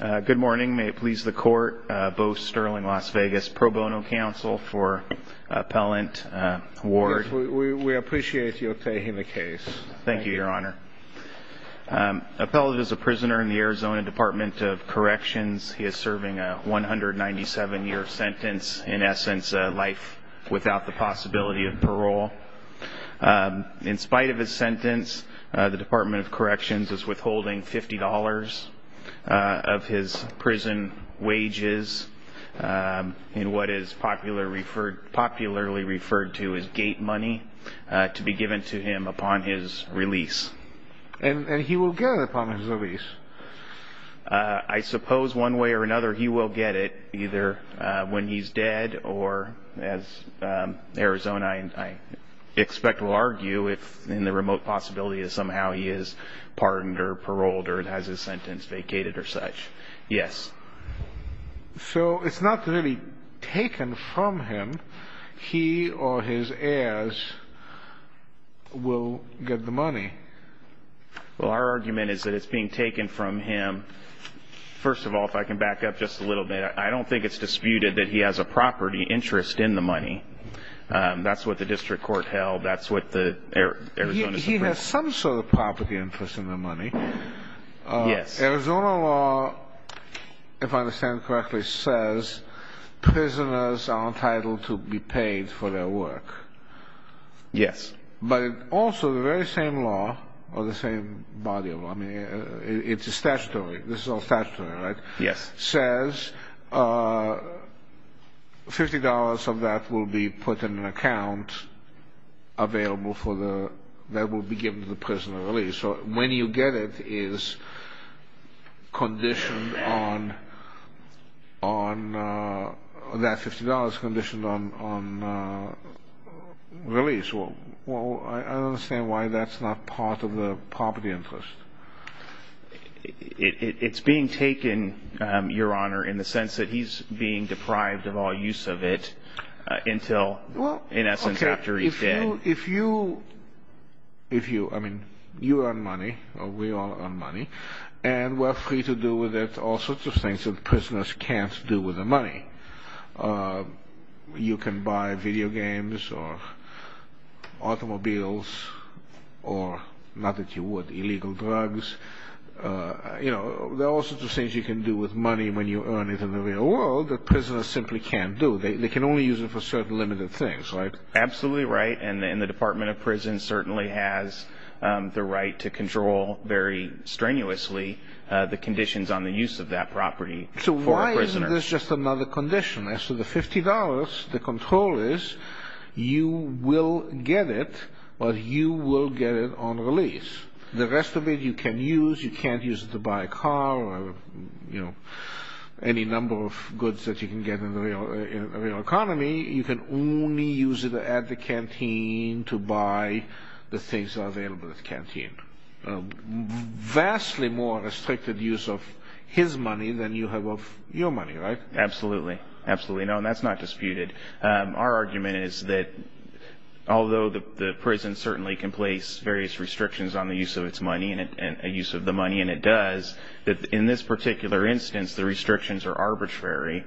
Good morning. May it please the Court, Bo Sterling, Las Vegas Pro Bono Counsel for Appellant Ward. We appreciate your taking the case. Thank you, Your Honor. Appellant is a prisoner in the Arizona Department of Corrections. He is serving a 197-year sentence, in essence, life without the possibility of parole. In spite of his sentence, the Department of Corrections is withholding $50 of his prison wages, in what is popularly referred to as gate money, to be given to him upon his release. And he will get it upon his release? I suppose one way or another he will get it, either when he's dead or, as Arizona I expect will argue, if in the remote possibility that somehow he is pardoned or paroled or has his sentence vacated or such. Yes. So it's not really taken from him. Well, our argument is that it's being taken from him. First of all, if I can back up just a little bit, I don't think it's disputed that he has a property interest in the money. That's what the district court held. That's what the Arizona Supreme Court held. He has some sort of property interest in the money. Yes. Arizona law, if I understand correctly, says prisoners are entitled to be paid for their work. Yes. But also the very same law, or the same body of law, I mean, it's a statutory, this is all statutory, right? Yes. Says $50 of that will be put in an account available for the, that will be given to the prisoner at release. So when you get it, it is conditioned on, that $50 is conditioned on release. Well, I don't understand why that's not part of the property interest. It's being taken, Your Honor, in the sense that he's being deprived of all use of it until, in essence, after he's dead. Well, if you, if you, I mean, you earn money, or we all earn money, and we're free to do with it all sorts of things that prisoners can't do with the money. You can buy video games, or automobiles, or, not that you would, illegal drugs. You know, there are all sorts of things you can do with money when you earn it in the real world that prisoners simply can't do. They can only use it for certain limited things, right? Absolutely right. And the Department of Prison certainly has the right to control very strenuously the conditions on the use of that property for a prisoner. So why isn't this just another condition? As to the $50, the control is you will get it, but you will get it on release. The rest of it you can use. You can't use it to buy a car or, you know, any number of goods that you can get in the real economy. You can only use it at the canteen to buy the things that are available at the canteen. Vastly more restricted use of his money than you have of your money, right? Absolutely. Absolutely. No, and that's not disputed. Our argument is that although the prison certainly can place various restrictions on the use of its money and the use of the money, and it does, that in this particular instance the restrictions are arbitrary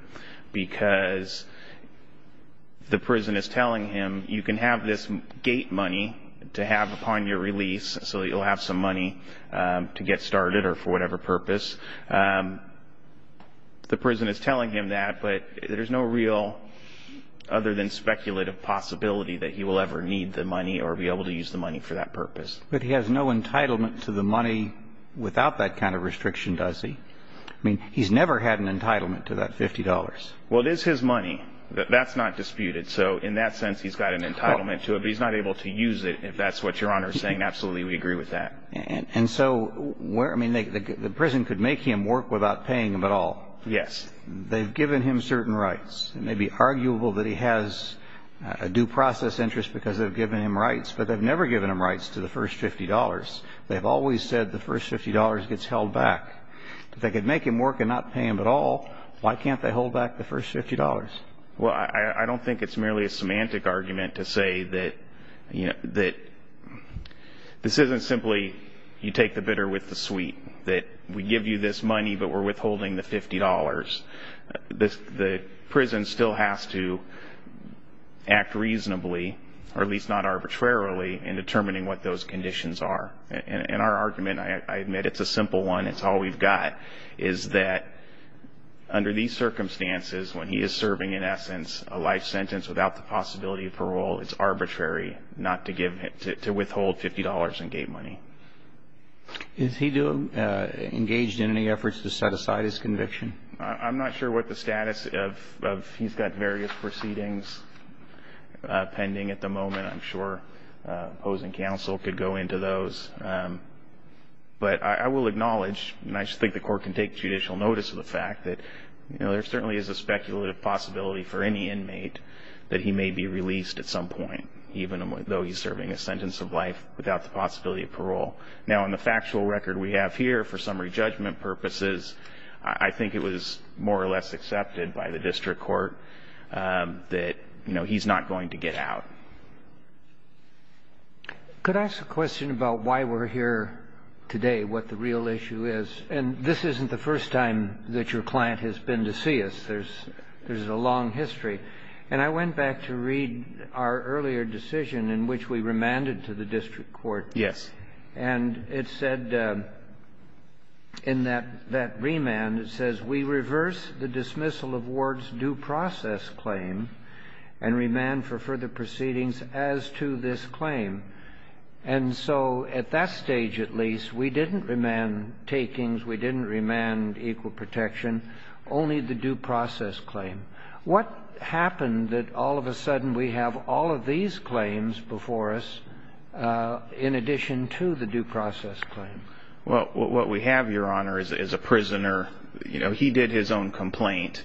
because the prison is telling him you can have this gate money to have upon your release so that you'll have some money to get started or for whatever purpose. The prison is telling him that, but there's no real other than speculative possibility that he will ever need the money or be able to use the money for that purpose. But he has no entitlement to the money without that kind of restriction, does he? I mean, he's never had an entitlement to that $50. Well, it is his money. That's not disputed. So in that sense, he's got an entitlement to it, but he's not able to use it, if that's what Your Honor is saying. Absolutely, we agree with that. And so the prison could make him work without paying him at all. Yes. They've given him certain rights. It may be arguable that he has a due process interest because they've given him rights, but they've never given him rights to the first $50. They've always said the first $50 gets held back. If they could make him work and not pay him at all, why can't they hold back the first $50? Well, I don't think it's merely a semantic argument to say that this isn't simply you take the bitter with the sweet, that we give you this money, but we're withholding the $50. The prison still has to act reasonably, or at least not arbitrarily, in determining what those conditions are. And our argument, I admit it's a simple one, it's all we've got, is that under these circumstances, when he is serving, in essence, a life sentence without the possibility of parole, it's arbitrary not to withhold $50 in gate money. Is he engaged in any efforts to set aside his conviction? I'm not sure what the status of he's got various proceedings pending at the moment. I'm sure opposing counsel could go into those. But I will acknowledge, and I just think the court can take judicial notice of the fact, that there certainly is a speculative possibility for any inmate that he may be released at some point, even though he's serving a sentence of life without the possibility of parole. Now, in the factual record we have here, for summary judgment purposes, I think it was more or less accepted by the district court that he's not going to get out. Could I ask a question about why we're here today, what the real issue is? And this isn't the first time that your client has been to see us. There's a long history. And I went back to read our earlier decision in which we remanded to the district court. Yes. And it said in that remand, it says, we reverse the dismissal of Ward's due process claim and remand for further proceedings as to this claim. And so at that stage, at least, we didn't remand takings, we didn't remand equal protection, only the due process claim. What happened that all of a sudden we have all of these claims before us in addition to the due process claim? Well, what we have, Your Honor, is a prisoner. You know, he did his own complaint.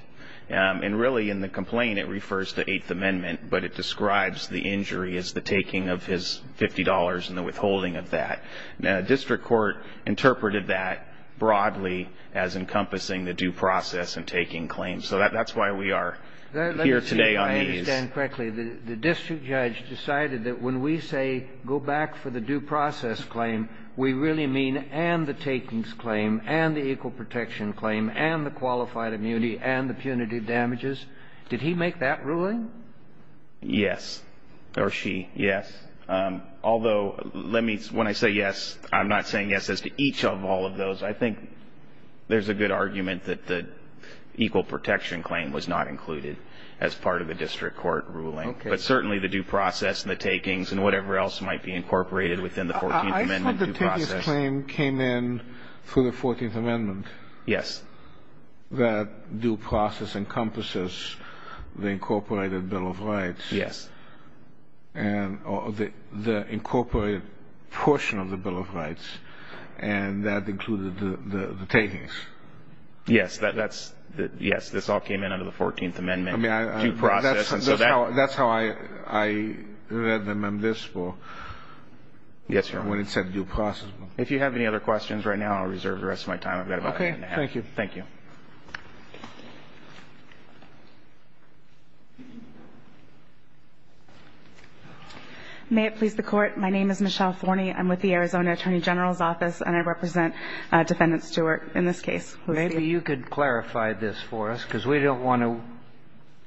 And really in the complaint it refers to Eighth Amendment, but it describes the injury as the taking of his $50 and the withholding of that. Now, the district court interpreted that broadly as encompassing the due process and taking claims. So that's why we are here today on these. Let me see if I understand correctly. The district judge decided that when we say go back for the due process claim, we really mean and the takings claim and the equal protection claim and the qualified immunity and the punitive damages? Did he make that ruling? Yes. Or she. Yes. Although, let me, when I say yes, I'm not saying yes as to each of all of those. I think there's a good argument that the equal protection claim was not included as part of the district court ruling. Okay. But certainly the due process and the takings and whatever else might be incorporated within the 14th Amendment due process. I thought the takings claim came in through the 14th Amendment. Yes. That due process encompasses the incorporated Bill of Rights. Yes. And the incorporated portion of the Bill of Rights. And that included the takings. Yes. That's, yes. This all came in under the 14th Amendment due process. That's how I read them in this book. Yes, Your Honor. When it said due process. If you have any other questions right now, I'll reserve the rest of my time. I've got about a minute and a half. Okay. Thank you. Thank you. May it please the Court. My name is Michelle Forney. I'm with the Arizona Attorney General's Office, and I represent Defendant Stewart in this case. Maybe you could clarify this for us, because we don't want to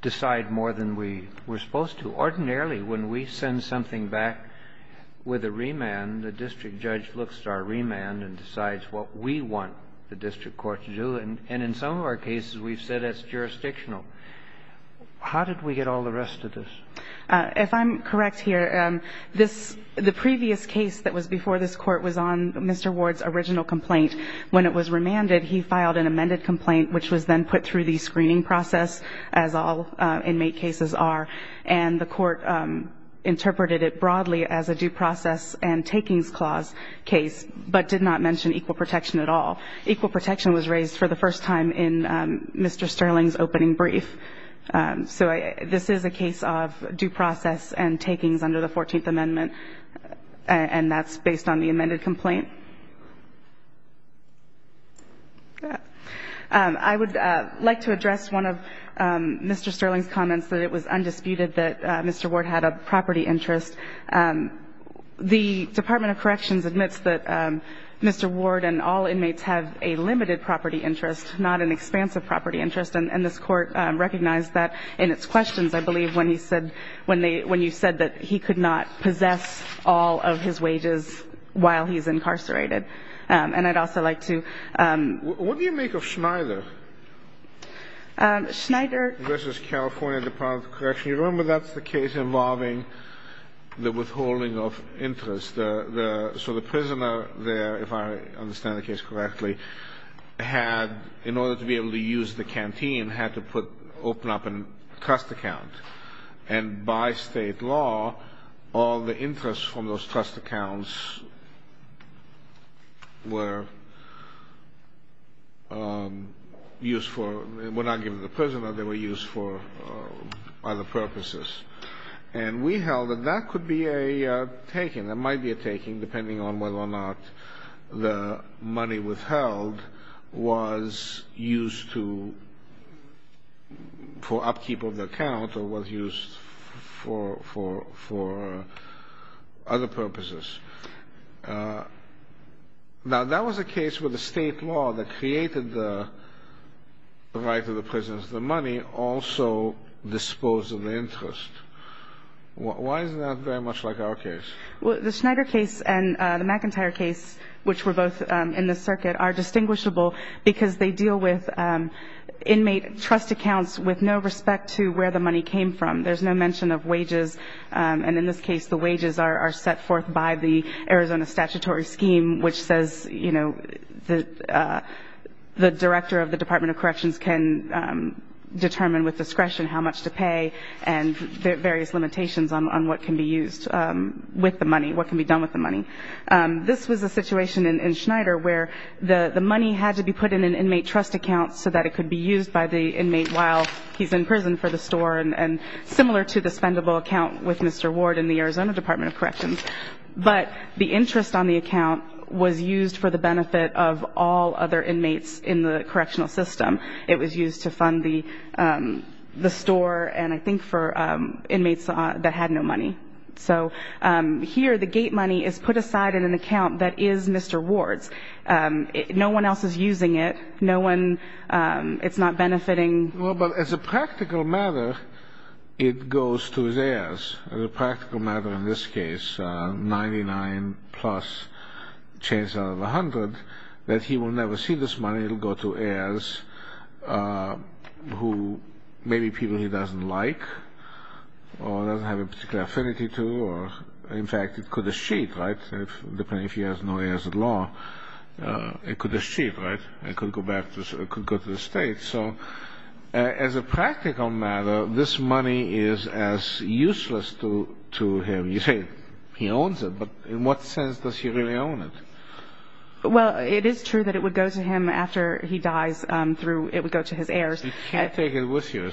decide more than we were supposed to. Ordinarily, when we send something back with a remand, the district judge looks at our remand and decides what we want the district court to do. And in some of our cases, we've said it's jurisdictional. How did we get all the rest of this? If I'm correct here, the previous case that was before this Court was on Mr. Ward's original complaint. When it was remanded, he filed an amended complaint, which was then put through the screening process, as all inmate cases are. And the Court interpreted it broadly as a due process and takings clause case, but did not mention equal protection at all. Equal protection was raised for the first time in Mr. Sterling's opening brief. So this is a case of due process and takings under the Fourteenth Amendment, and that's based on the amended complaint. I would like to address one of Mr. Sterling's comments, that it was undisputed that Mr. Ward had a property interest. The Department of Corrections admits that Mr. Ward and all inmates have a limited property interest, not an expansive property interest. And this Court recognized that in its questions, I believe, when he said, when you said that he could not possess all of his wages while he's incarcerated. And I'd also like to ---- What do you make of Schneider? Schneider ---- Versus California Department of Corrections. You remember that's the case involving the withholding of interest. So the prisoner there, if I understand the case correctly, had, in order to be able to use the canteen, had to put open up a trust account. And by State law, all the interest from those trust accounts were used for ---- were not given to the prisoner. They were used for other purposes. And we held that that could be a taking. It might be a taking, depending on whether or not the money withheld was used to ---- for upkeep of the account or was used for other purposes. Now, that was a case where the State law that created the right of the prisoners to the money also disposed of the interest. Why is that very much like our case? Well, the Schneider case and the McIntyre case, which were both in this circuit, are distinguishable because they deal with inmate trust accounts with no respect to where the money came from. There's no mention of wages. And in this case, the wages are set forth by the Arizona statutory scheme, which says the director of the Department of Corrections can determine with discretion how much to pay and various limitations on what can be used with the money, what can be done with the money. This was a situation in Schneider where the money had to be put in an inmate trust account so that it could be used by the inmate while he's in prison for the store. And similar to the spendable account with Mr. Ward in the Arizona Department of Corrections. But the interest on the account was used for the benefit of all other inmates in the correctional system. It was used to fund the store and I think for inmates that had no money. So here the gate money is put aside in an account that is Mr. Ward's. No one else is using it. No one ---- it's not benefiting. Well, but as a practical matter, it goes to his heirs. As a practical matter in this case, 99 plus change out of 100, that he will never see this money. It will go to heirs who may be people he doesn't like or doesn't have a particular affinity to. In fact, it could eschew, right? If he has no heirs at law, it could eschew, right? It could go back to the state. So as a practical matter, this money is as useless to him. You say he owns it, but in what sense does he really own it? Well, it is true that it would go to him after he dies through ---- it would go to his heirs. He can't take it with him.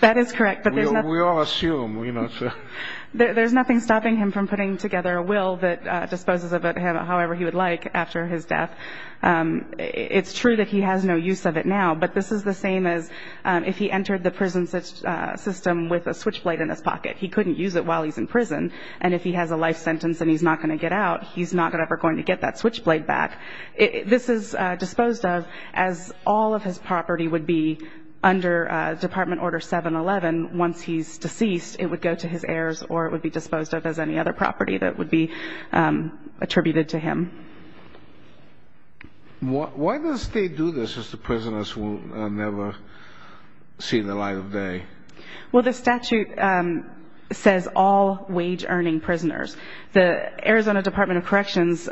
That is correct. We all assume. There's nothing stopping him from putting together a will that disposes of him however he would like after his death. It's true that he has no use of it now, but this is the same as if he entered the prison system with a switchblade in his pocket. He couldn't use it while he's in prison, and if he has a life sentence and he's not going to get out, he's not ever going to get that switchblade back. This is disposed of as all of his property would be under Department Order 711. Once he's deceased, it would go to his heirs or it would be disposed of as any other property that would be attributed to him. Why does the state do this if the prisoners will never see the light of day? Well, the statute says all wage-earning prisoners. The Arizona Department of Corrections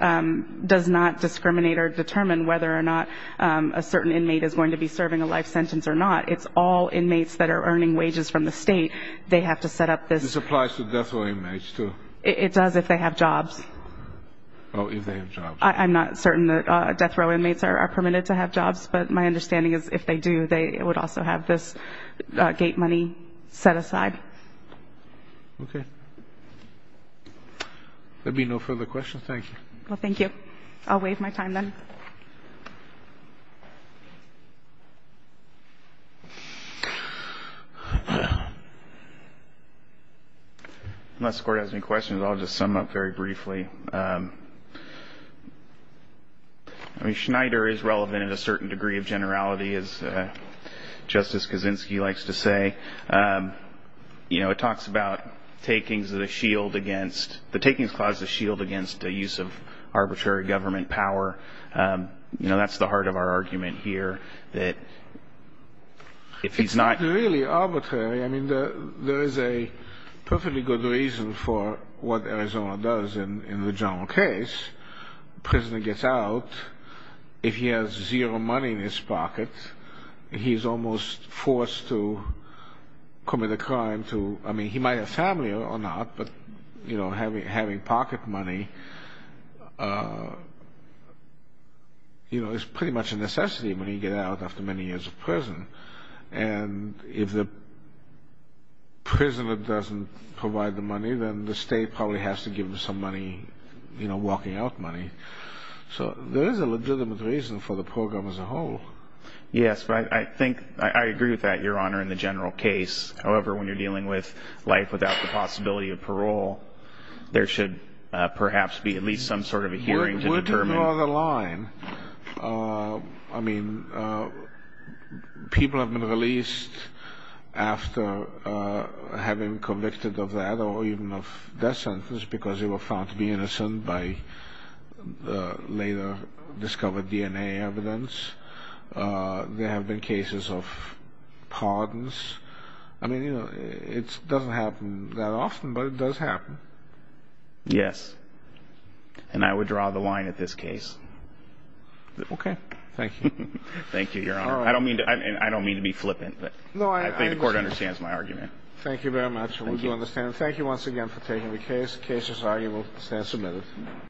does not discriminate or determine whether or not a certain inmate is going to be serving a life sentence or not. It's all inmates that are earning wages from the state. They have to set up this. This applies to death row inmates, too. It does if they have jobs. Oh, if they have jobs. I'm not certain that death row inmates are permitted to have jobs, but my understanding is if they do, they would also have this gate money set aside. Okay. There will be no further questions. Thank you. Well, thank you. I'll waive my time then. Unless the Court has any questions, I'll just sum up very briefly. Schneider is relevant in a certain degree of generality, as Justice Kaczynski likes to say. You know, it talks about the takings clause of the shield against the use of arbitrary government power. You know, that's the heart of our argument here, that if he's not It's not really arbitrary. I mean, there is a perfectly good reason for what Arizona does in the general case. Prisoner gets out. If he has zero money in his pocket, he's almost forced to commit a crime to I mean, he might have family or not, but, you know, having pocket money, you know, is pretty much a necessity when he gets out after many years of prison. And if the prisoner doesn't provide the money, then the state probably has to give him some money, you know, walking out money. So there is a legitimate reason for the program as a whole. Yes, I think I agree with that, Your Honor, in the general case. However, when you're dealing with life without the possibility of parole, there should perhaps be at least some sort of a hearing to determine Where do you draw the line? I mean, people have been released after having been convicted of that or even of death sentences because they were found to be innocent by the later discovered DNA evidence. There have been cases of pardons. I mean, you know, it doesn't happen that often, but it does happen. Yes. And I would draw the line at this case. Okay. Thank you. Thank you, Your Honor. I don't mean to be flippant, but I think the Court understands my argument. Thank you very much. We do understand. Thank you once again for taking the case. The case is argued and will stand submitted.